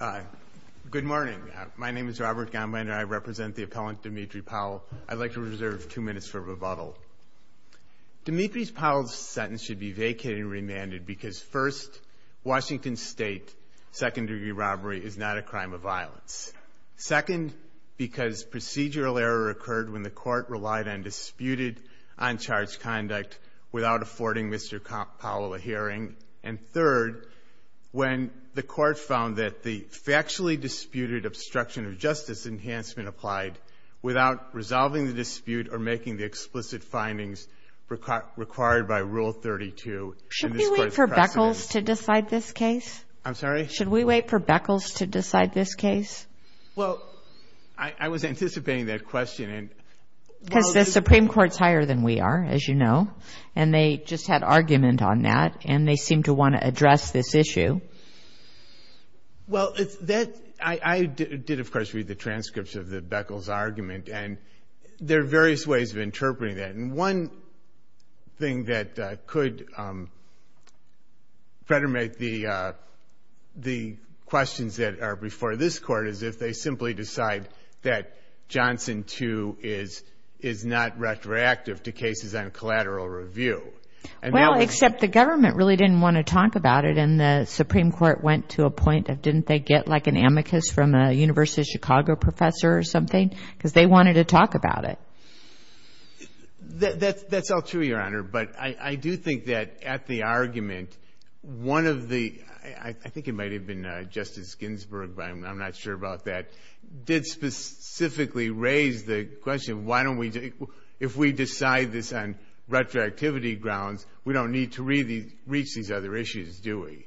Hi. Good morning. My name is Robert Gahnweiner. I represent the appellant Dimitri Powell. I'd like to reserve two minutes for rebuttal. Dimitri Powell's sentence should be vacated and remanded because, first, Washington State second-degree robbery is not a crime of violence, second, because procedural error occurred when the court relied on disputed, and third, when the court found that the factually disputed obstruction of justice enhancement applied without resolving the dispute or making the explicit findings required by Rule 32. Should we wait for Beckles to decide this case? I'm sorry? Should we wait for Beckles to decide this case? Well, I was anticipating that question. Because the Supreme Court's higher than we are, as you know, and they just had argument on that, and they seem to want to address this issue. Well, I did, of course, read the transcripts of Beckles' argument, and there are various ways of interpreting that. And one thing that could predominate the questions that are before this Court is if they simply decide that Johnson 2 is not retroactive to cases on collateral review. Well, except the government really didn't want to talk about it, and the Supreme Court went to a point of didn't they get, like, an amicus from a University of Chicago professor or something? Because they wanted to talk about it. That's all true, Your Honor. But I do think that at the argument, one of the ‑‑ did specifically raise the question why don't we ‑‑ if we decide this on retroactivity grounds, we don't need to reach these other issues, do we?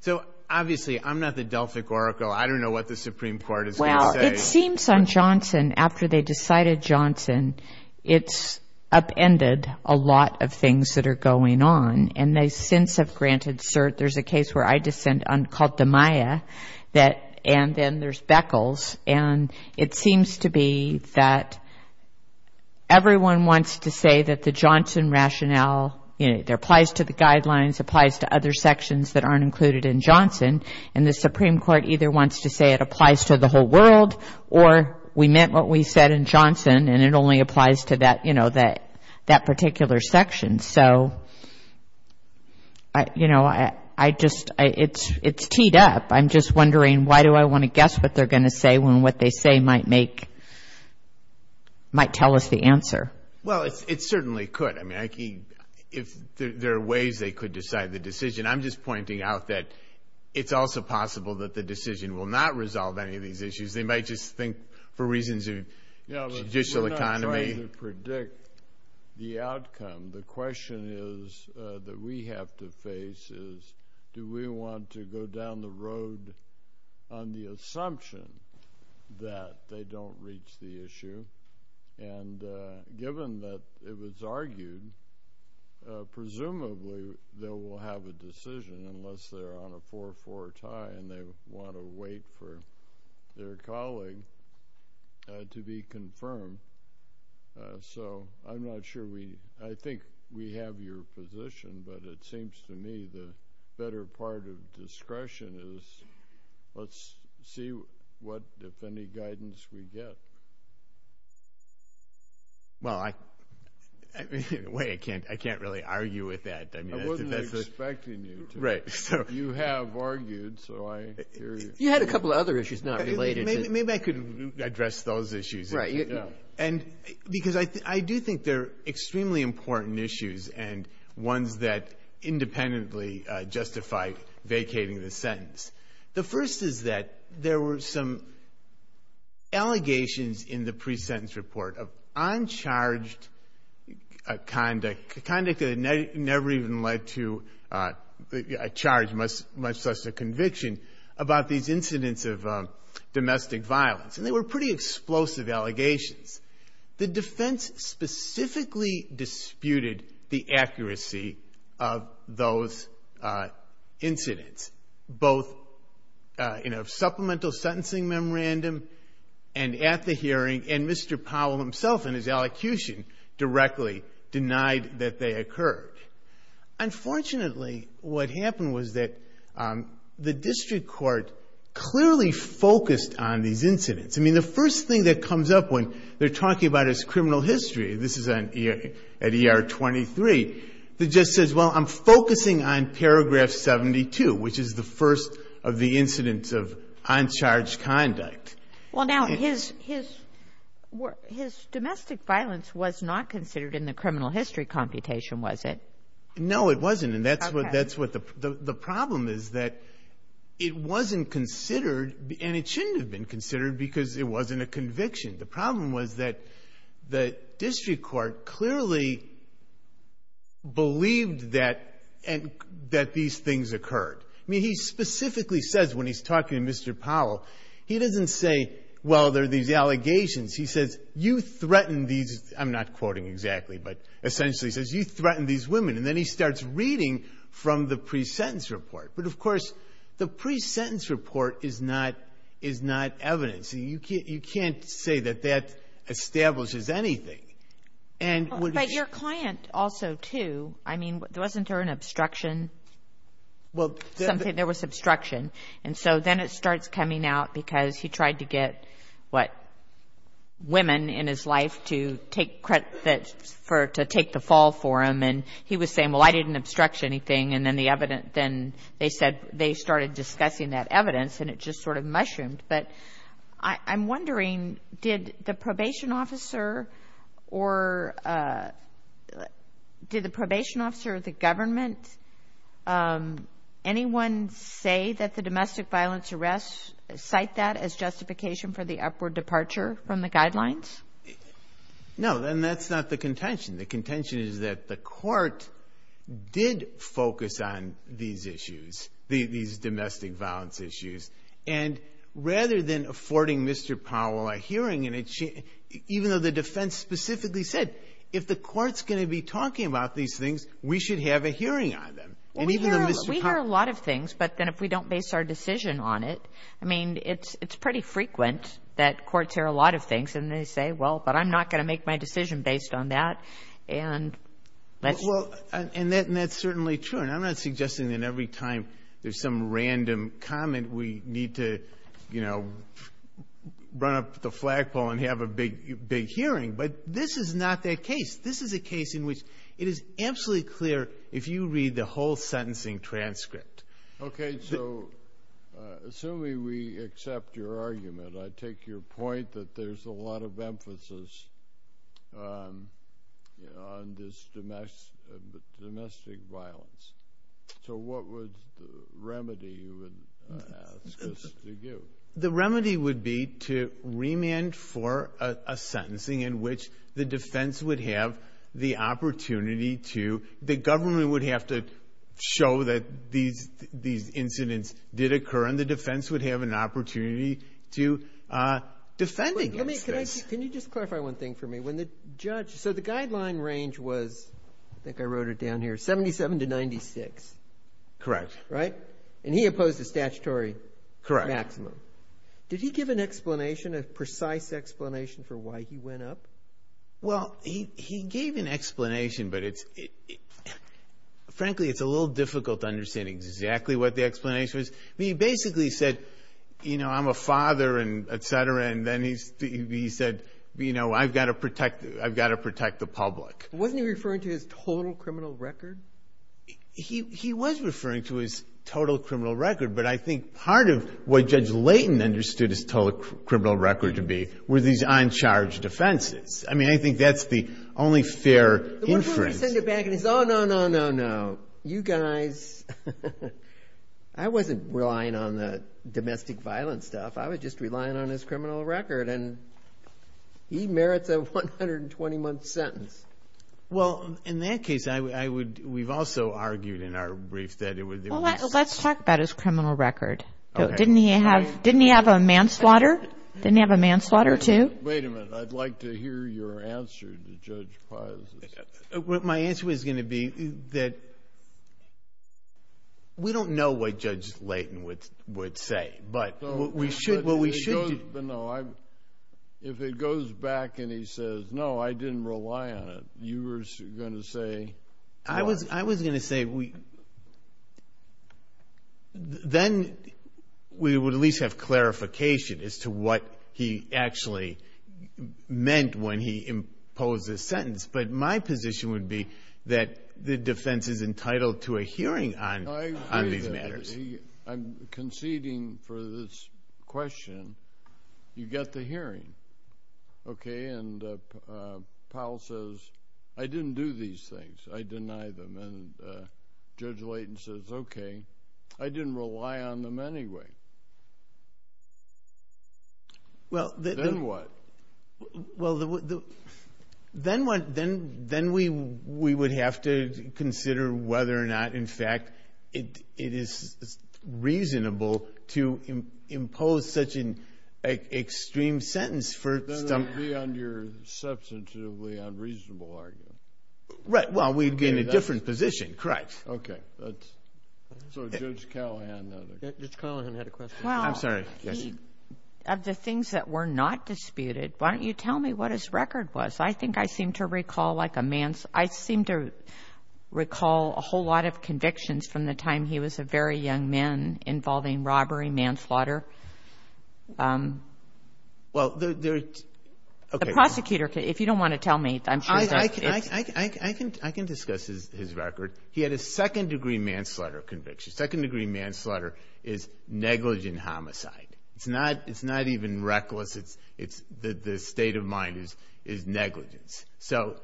So, obviously, I'm not the Delphic Oracle. I don't know what the Supreme Court is going to say. Well, it seems on Johnson, after they decided Johnson, it's upended a lot of things that are going on. And they since have granted cert. There's a case where I descend called the Maya, and then there's Beckles. And it seems to be that everyone wants to say that the Johnson rationale, it applies to the guidelines, applies to other sections that aren't included in Johnson. And the Supreme Court either wants to say it applies to the whole world or we meant what we said in Johnson, and it only applies to that particular section. And so, you know, I just ‑‑ it's teed up. I'm just wondering why do I want to guess what they're going to say when what they say might make ‑‑ might tell us the answer. Well, it certainly could. I mean, if there are ways they could decide the decision. I'm just pointing out that it's also possible that the decision will not resolve any of these issues. They might just think for reasons of judicial economy. Well, in order to predict the outcome, the question is that we have to face is do we want to go down the road on the assumption that they don't reach the issue. And given that it was argued, presumably they will have a decision unless they're on a 4‑4 tie and they want to wait for their colleague to be confirmed. So I'm not sure we ‑‑ I think we have your position, but it seems to me the better part of discretion is let's see what, if any, guidance we get. Well, I can't really argue with that. I wasn't expecting you to. Right. You have argued, so I hear you. You had a couple of other issues not related. Maybe I could address those issues. Right. And because I do think they're extremely important issues and ones that independently justify vacating the sentence. The first is that there were some allegations in the presentence report of uncharged conduct, conduct that never even led to a charge, much less a conviction, about these incidents of domestic violence. And they were pretty explosive allegations. The defense specifically disputed the accuracy of those incidents, both in a supplemental sentencing memorandum and at the hearing and Mr. Powell himself in his elocution directly denied that they occurred. Unfortunately, what happened was that the district court clearly focused on these incidents. I mean, the first thing that comes up when they're talking about his criminal history, this is at ER 23, the judge says, well, I'm focusing on paragraph 72, which is the first of the incidents of uncharged conduct. Well, now, his domestic violence was not considered in the criminal history computation, was it? No, it wasn't, and that's what the problem is, that it wasn't considered and it shouldn't have been considered because it wasn't a conviction. The problem was that the district court clearly believed that these things occurred. I mean, he specifically says when he's talking to Mr. Powell, he doesn't say, well, there are these allegations. He says, you threaten these, I'm not quoting exactly, but essentially he says, you threaten these women, and then he starts reading from the pre-sentence report. But, of course, the pre-sentence report is not evidence. You can't say that that establishes anything. But your client also, too, I mean, wasn't there an obstruction? Well, there was. Something, there was obstruction. And so then it starts coming out because he tried to get, what, women in his life to take credit for, to take the fall for him, and he was saying, well, I didn't obstruct anything, and then the evidence, then they said they started discussing that evidence, and it just sort of mushroomed. But I'm wondering, did the probation officer or the government, anyone say that the domestic violence arrest, cite that as justification for the upward departure from the guidelines? No, and that's not the contention. The contention is that the court did focus on these issues, these domestic violence issues, and rather than affording Mr. Powell a hearing in it, even though the defense specifically said, if the court's going to be talking about these things, we should have a hearing on them. And even though Mr. Powell ---- We hear a lot of things, but then if we don't base our decision on it, I mean, it's pretty frequent that courts hear a lot of things, and they say, well, but I'm not going to make my decision based on that, and let's ---- Well, and that's certainly true. And I'm not suggesting that every time there's some random comment we need to, you know, run up the flagpole and have a big hearing, but this is not that case. This is a case in which it is absolutely clear if you read the whole sentencing transcript. Okay, so assuming we accept your argument, I take your point that there's a lot of emphasis on this domestic violence. So what would the remedy you would ask us to give? The remedy would be to remand for a sentencing in which the defense would have the opportunity to ---- the government would have to show that these incidents did occur, and the defense would have an opportunity to defend against this. Wait, let me ---- can you just clarify one thing for me? When the judge ---- so the guideline range was, I think I wrote it down here, 77 to 96. Correct. Right? And he opposed the statutory maximum. Correct. Did he give an explanation, a precise explanation for why he went up? Well, he gave an explanation, but it's ---- frankly, it's a little difficult to understand exactly what the explanation was. I mean, he basically said, you know, I'm a father and et cetera, and then he said, you know, I've got to protect the public. Wasn't he referring to his total criminal record? He was referring to his total criminal record, but I think part of what Judge Layton understood his total criminal record to be were these on-charge defenses. I mean, I think that's the only fair inference. Oh, no, no, no, no. You guys, I wasn't relying on the domestic violence stuff. I was just relying on his criminal record, and he merits a 120-month sentence. Well, in that case, I would ---- we've also argued in our brief that it was ---- Well, let's talk about his criminal record. Didn't he have a manslaughter? Didn't he have a manslaughter too? Wait a minute. I'd like to hear your answer to Judge Pius. My answer is going to be that we don't know what Judge Layton would say, but we should ---- No, if it goes back and he says, no, I didn't rely on it, you were going to say ---- I was going to say we ---- then we would at least have clarification as to what he actually meant when he imposed this sentence, but my position would be that the defense is entitled to a hearing on these matters. I'm conceding for this question, you get the hearing, okay? And Powell says, I didn't do these things. I deny them. And Judge Layton says, okay, I didn't rely on them anyway. Then what? Well, then we would have to consider whether or not, in fact, it is reasonable to impose such an extreme sentence for ---- That would be on your substantively unreasonable argument. Right. Well, we'd be in a different position. Correct. Okay. So Judge Callahan ---- Judge Callahan had a question. I'm sorry. Yes? Of the things that were not disputed, why don't you tell me what his record was? I think I seem to recall a whole lot of convictions from the time he was a very young man involving robbery, manslaughter. Well, okay. The prosecutor, if you don't want to tell me, I'm sure that's ---- I can discuss his record. He had a second-degree manslaughter conviction. Second-degree manslaughter is negligent homicide. It's not even reckless. The state of mind is negligence. So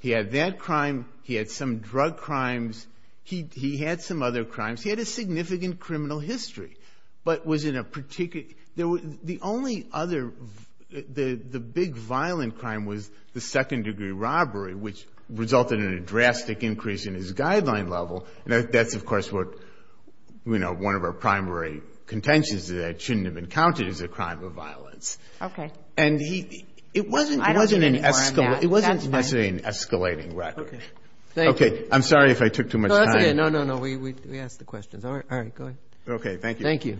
he had that crime. He had some drug crimes. He had some other crimes. He had a significant criminal history, but was in a particular ---- The only other, the big violent crime was the second-degree robbery, which resulted in a drastic increase in his guideline level. And that's, of course, what, you know, one of our primary contentions is that it shouldn't have been counted as a crime of violence. Okay. And he ---- It wasn't an escalating record. Okay. I'm sorry if I took too much time. No, that's okay. No, no, no. We asked the questions. All right. All right. Go ahead. Okay. Thank you. Thank you.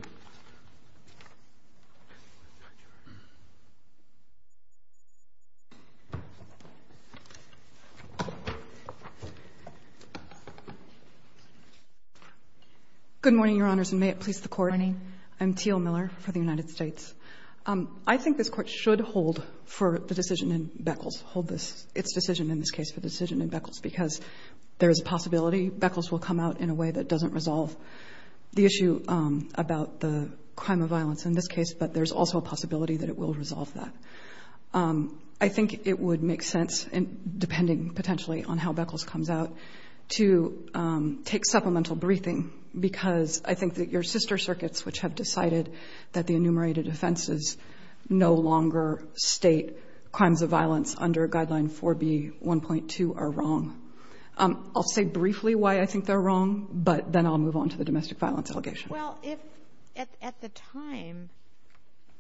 Good morning, Your Honors, and may it please the Court. Good morning. I'm Teal Miller for the United States. I think this Court should hold for the decision in Beckles, hold its decision in this case for the decision in Beckles, because there is a possibility Beckles will come out in a way that doesn't resolve the issue about the crime of violence in this case, but there's also a possibility that it will resolve that. I think it would make sense, depending potentially on how Beckles comes out, to take supplemental briefing, because I think that your sister circuits, which have decided that the enumerated offenses no longer state crimes of violence under Guideline 4B1.2 are wrong. I'll say briefly why I think they're wrong, but then I'll move on to the domestic violence allegation. Well, if at the time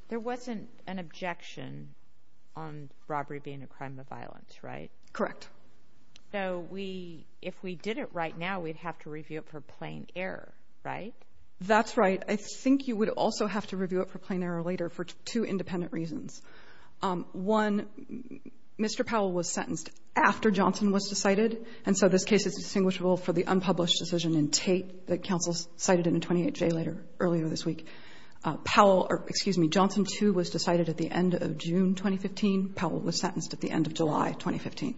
there wasn't an objection on robbery being a crime of violence, right? Correct. So if we did it right now, we'd have to review it for plain error, right? That's right. I think you would also have to review it for plain error later for two independent reasons. One, Mr. Powell was sentenced after Johnson was decided, and so this case is distinguishable for the unpublished decision in Tate that counsel cited in the 28J later, earlier this week. Powell or, excuse me, Johnson, too, was decided at the end of June 2015. Powell was sentenced at the end of July 2015.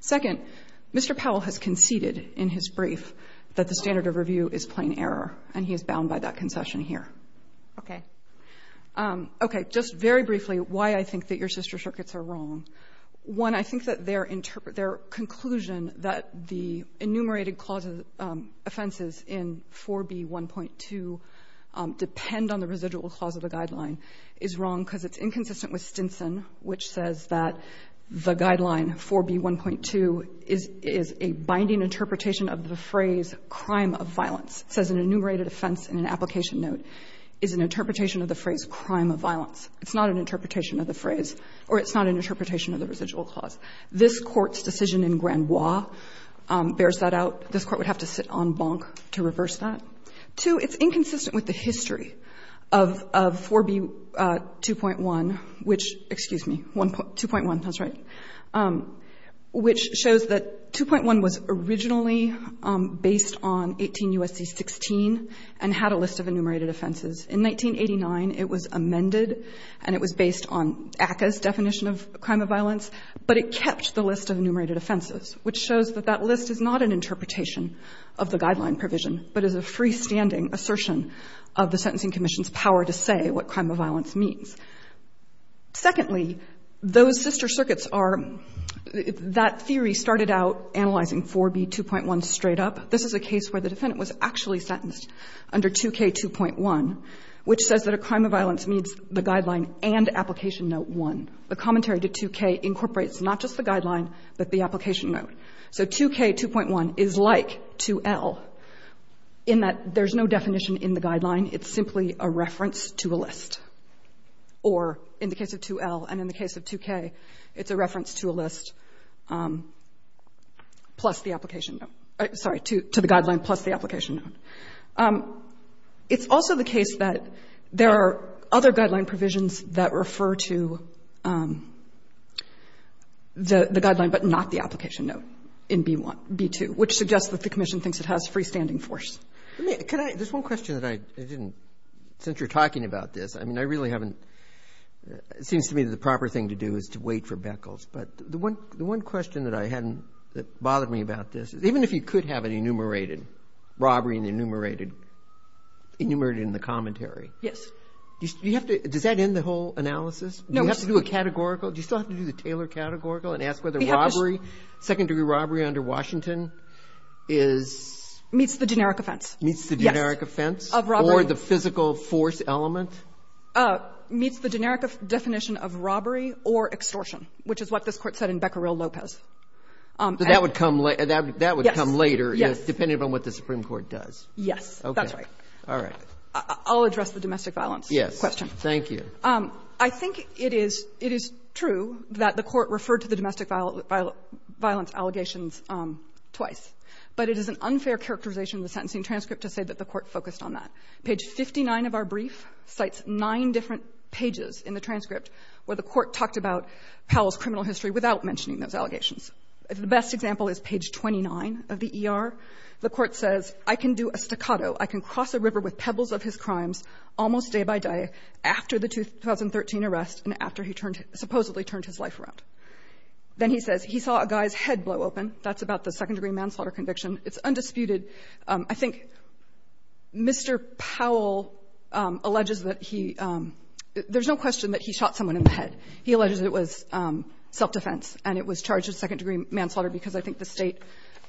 Second, Mr. Powell has conceded in his brief that the standard of review is plain error, and he is bound by that concession here. Okay. Okay. Just very briefly why I think that your sister circuits are wrong. One, I think that their interpretation, their conclusion that the enumerated clauses offenses in 4B1.2 depend on the residual clause of the Guideline is wrong because it's inconsistent with Stinson, which says that the Guideline, 4B1.2, is a binding interpretation of the phrase, crime of violence. It says an enumerated offense in an application note is an interpretation of the phrase, crime of violence. It's not an interpretation of the phrase, or it's not an interpretation of the residual clause. This Court's decision in Grand Moi bears that out. This Court would have to sit on bonk to reverse that. Two, it's inconsistent with the history of 4B2.1, which, excuse me, 2.1, that's right, which shows that 2.1 was originally based on 18 U.S.C. 16 and had a list of enumerated offenses. In 1989, it was amended, and it was based on ACCA's definition of crime of violence, but it kept the list of enumerated offenses, which shows that that list is not an understanding assertion of the Sentencing Commission's power to say what crime of violence means. Secondly, those sister circuits are, that theory started out analyzing 4B2.1 straight up. This is a case where the defendant was actually sentenced under 2K2.1, which says that a crime of violence meets the Guideline and Application Note 1. The commentary to 2K incorporates not just the Guideline, but the Application Note. So 2K2.1 is like 2L in that there's no definition in the Guideline. It's simply a reference to a list. Or in the case of 2L and in the case of 2K, it's a reference to a list plus the Application Note. Sorry, to the Guideline plus the Application Note. It's also the case that there are other Guideline provisions that refer to the B2, which suggests that the commission thinks it has freestanding force. Roberts. There's one question that I didn't, since you're talking about this. I mean, I really haven't, it seems to me the proper thing to do is to wait for Beckles. But the one question that I hadn't, that bothered me about this, even if you could have it enumerated, robbery and enumerated, enumerated in the commentary. Yes. Do you have to, does that end the whole analysis? No. Do you have to do a categorical? Do you still have to do the Taylor categorical and ask whether robbery, second-degree robbery under Washington is? Meets the generic offense. Meets the generic offense? Yes. Of robbery. Or the physical force element? Meets the generic definition of robbery or extortion, which is what this Court said in Becquerel-Lopez. That would come later. Yes. That would come later. Yes. Yes. Okay. That's right. All right. I'll address the domestic violence question. Yes. Thank you. I think it is, it is true that the Court referred to the domestic violence allegations twice. But it is an unfair characterization in the sentencing transcript to say that the Court focused on that. Page 59 of our brief cites nine different pages in the transcript where the Court talked about Powell's criminal history without mentioning those allegations. The best example is page 29 of the ER. The Court says, I can do a staccato, I can cross a river with pebbles of his crimes almost day by day after the 2013 arrest and after he turned, supposedly turned his life around. Then he says, he saw a guy's head blow open. That's about the second-degree manslaughter conviction. It's undisputed. I think Mr. Powell alleges that he — there's no question that he shot someone in the head. He alleges it was self-defense and it was charged as second-degree manslaughter because I think the State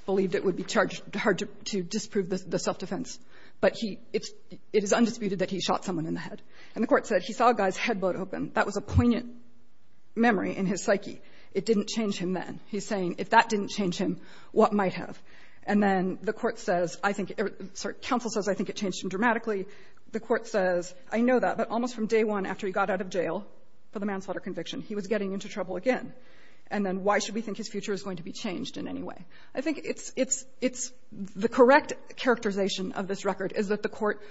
believed it would be charged hard to disprove the self-defense. But he — it's — it is undisputed that he shot someone in the head. And the Court said, he saw a guy's head blow open. That was a poignant memory in his psyche. It didn't change him then. He's saying, if that didn't change him, what might have? And then the Court says, I think — sorry, counsel says, I think it changed him dramatically. The Court says, I know that, but almost from day one after he got out of jail for the manslaughter conviction, he was getting into trouble again. And then why should we think his future is going to be changed in any way? I think it's — it's — it's — the correct characterization of this record is that the Court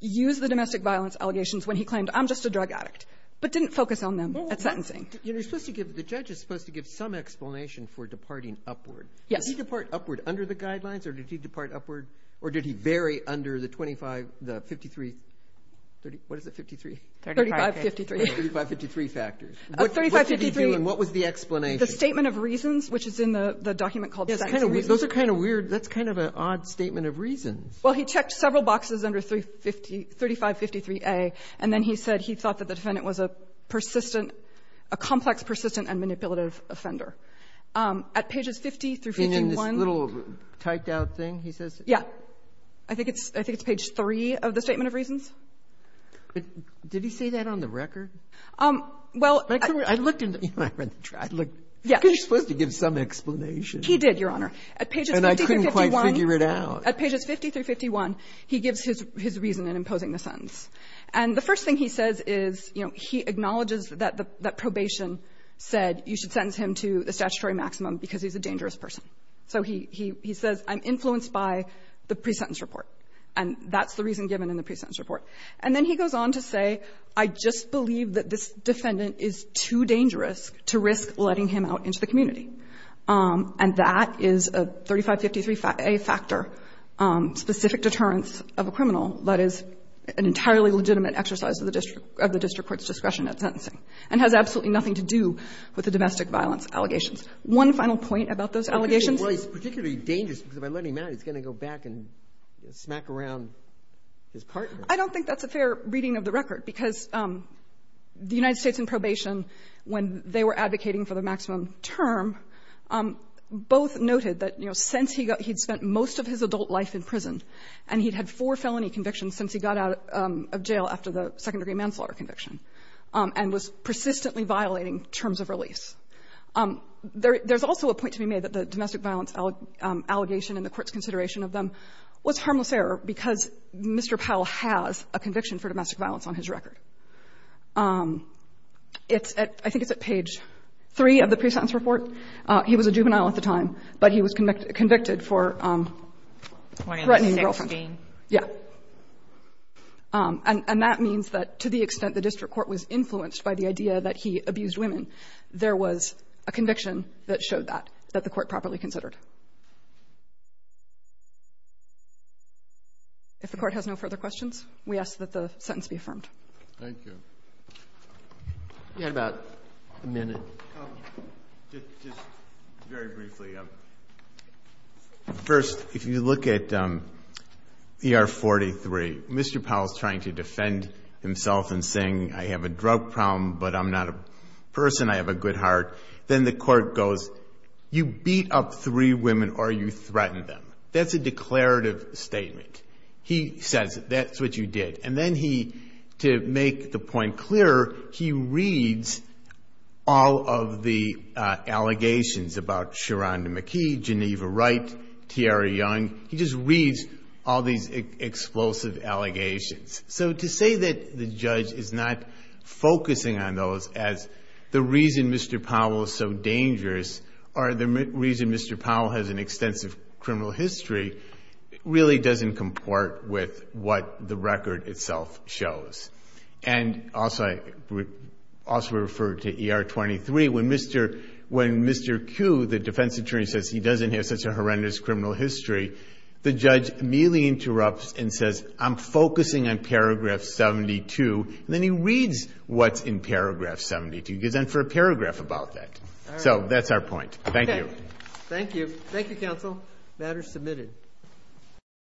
used the domestic violence allegations when he claimed, I'm just a drug addict, but didn't focus on them at sentencing. You know, you're supposed to give — the judge is supposed to give some explanation for departing upward. Yes. Did he depart upward under the guidelines or did he depart upward — or did he vary under the 25 — the 53 — what is it, 53? 3553. 3553 factors. 3553. What did he do and what was the explanation? The statement of reasons, which is in the document called Sentencing Reasons. Those are kind of weird. That's kind of an odd statement of reasons. Well, he checked several boxes under 3553A, and then he said he thought that the defendant was a persistent — a complex, persistent, and manipulative offender. At pages 50 through 51 — In this little typed-out thing, he says? Yeah. I think it's — I think it's page 3 of the statement of reasons. Did he say that on the record? Well — I looked in the — I looked — Yes. He's supposed to give some explanation. He did, Your Honor. At pages 50 through 51 — And I couldn't quite figure it out. At pages 50 through 51, he gives his — his reason in imposing the sentence. And the first thing he says is, you know, he acknowledges that the — that probation said you should sentence him to the statutory maximum because he's a dangerous person. So he — he says, I'm influenced by the pre-sentence report. And that's the reason given in the pre-sentence report. And then he goes on to say, I just believe that this defendant is too dangerous to risk letting him out into the community. And that is a 3553a factor, specific deterrence of a criminal that is an entirely legitimate exercise of the district — of the district court's discretion at sentencing, and has absolutely nothing to do with the domestic violence allegations. One final point about those allegations. Well, he's particularly dangerous because if I let him out, he's going to go back and smack around his partner. I don't think that's a fair reading of the record, because the United States in probation, when they were advocating for the maximum term, both noted that, you know, since he got — he'd spent most of his adult life in prison, and he'd had four felony convictions since he got out of jail after the second-degree manslaughter conviction, and was persistently violating terms of release. There's also a point to be made that the domestic violence allegation in the Court's discretion was harmless error, because Mr. Powell has a conviction for domestic violence on his record. It's at — I think it's at page 3 of the pre-sentence report. He was a juvenile at the time, but he was convicted for threatening a girlfriend. Kagan. Yeah. And that means that to the extent the district court was influenced by the idea that he abused women, there was a conviction that showed that, that the Court properly considered. If the Court has no further questions, we ask that the sentence be affirmed. Thank you. You had about a minute. Just very briefly, first, if you look at ER-43, Mr. Powell is trying to defend himself in saying, I have a drug problem, but I'm not a person, I have a good heart, then the Court goes, you beat up three women or you threatened them. That's a declarative statement. He says, that's what you did. And then he, to make the point clearer, he reads all of the allegations about Sharonda McKee, Geneva Wright, Tiara Young. He just reads all these explosive allegations. So to say that the judge is not focusing on those as the reason Mr. Powell is so dangerous, or the reason Mr. Powell has an extensive criminal history, really doesn't comport with what the record itself shows. And also, I would also refer to ER-23. When Mr. Q, the defense attorney, says he doesn't have such a horrendous criminal history, the judge merely interrupts and says, I'm focusing on paragraph 72. And then he reads what's in paragraph 72. He goes on for a paragraph about that. So that's our point. Thank you. Thank you. Thank you, counsel. Matter submitted.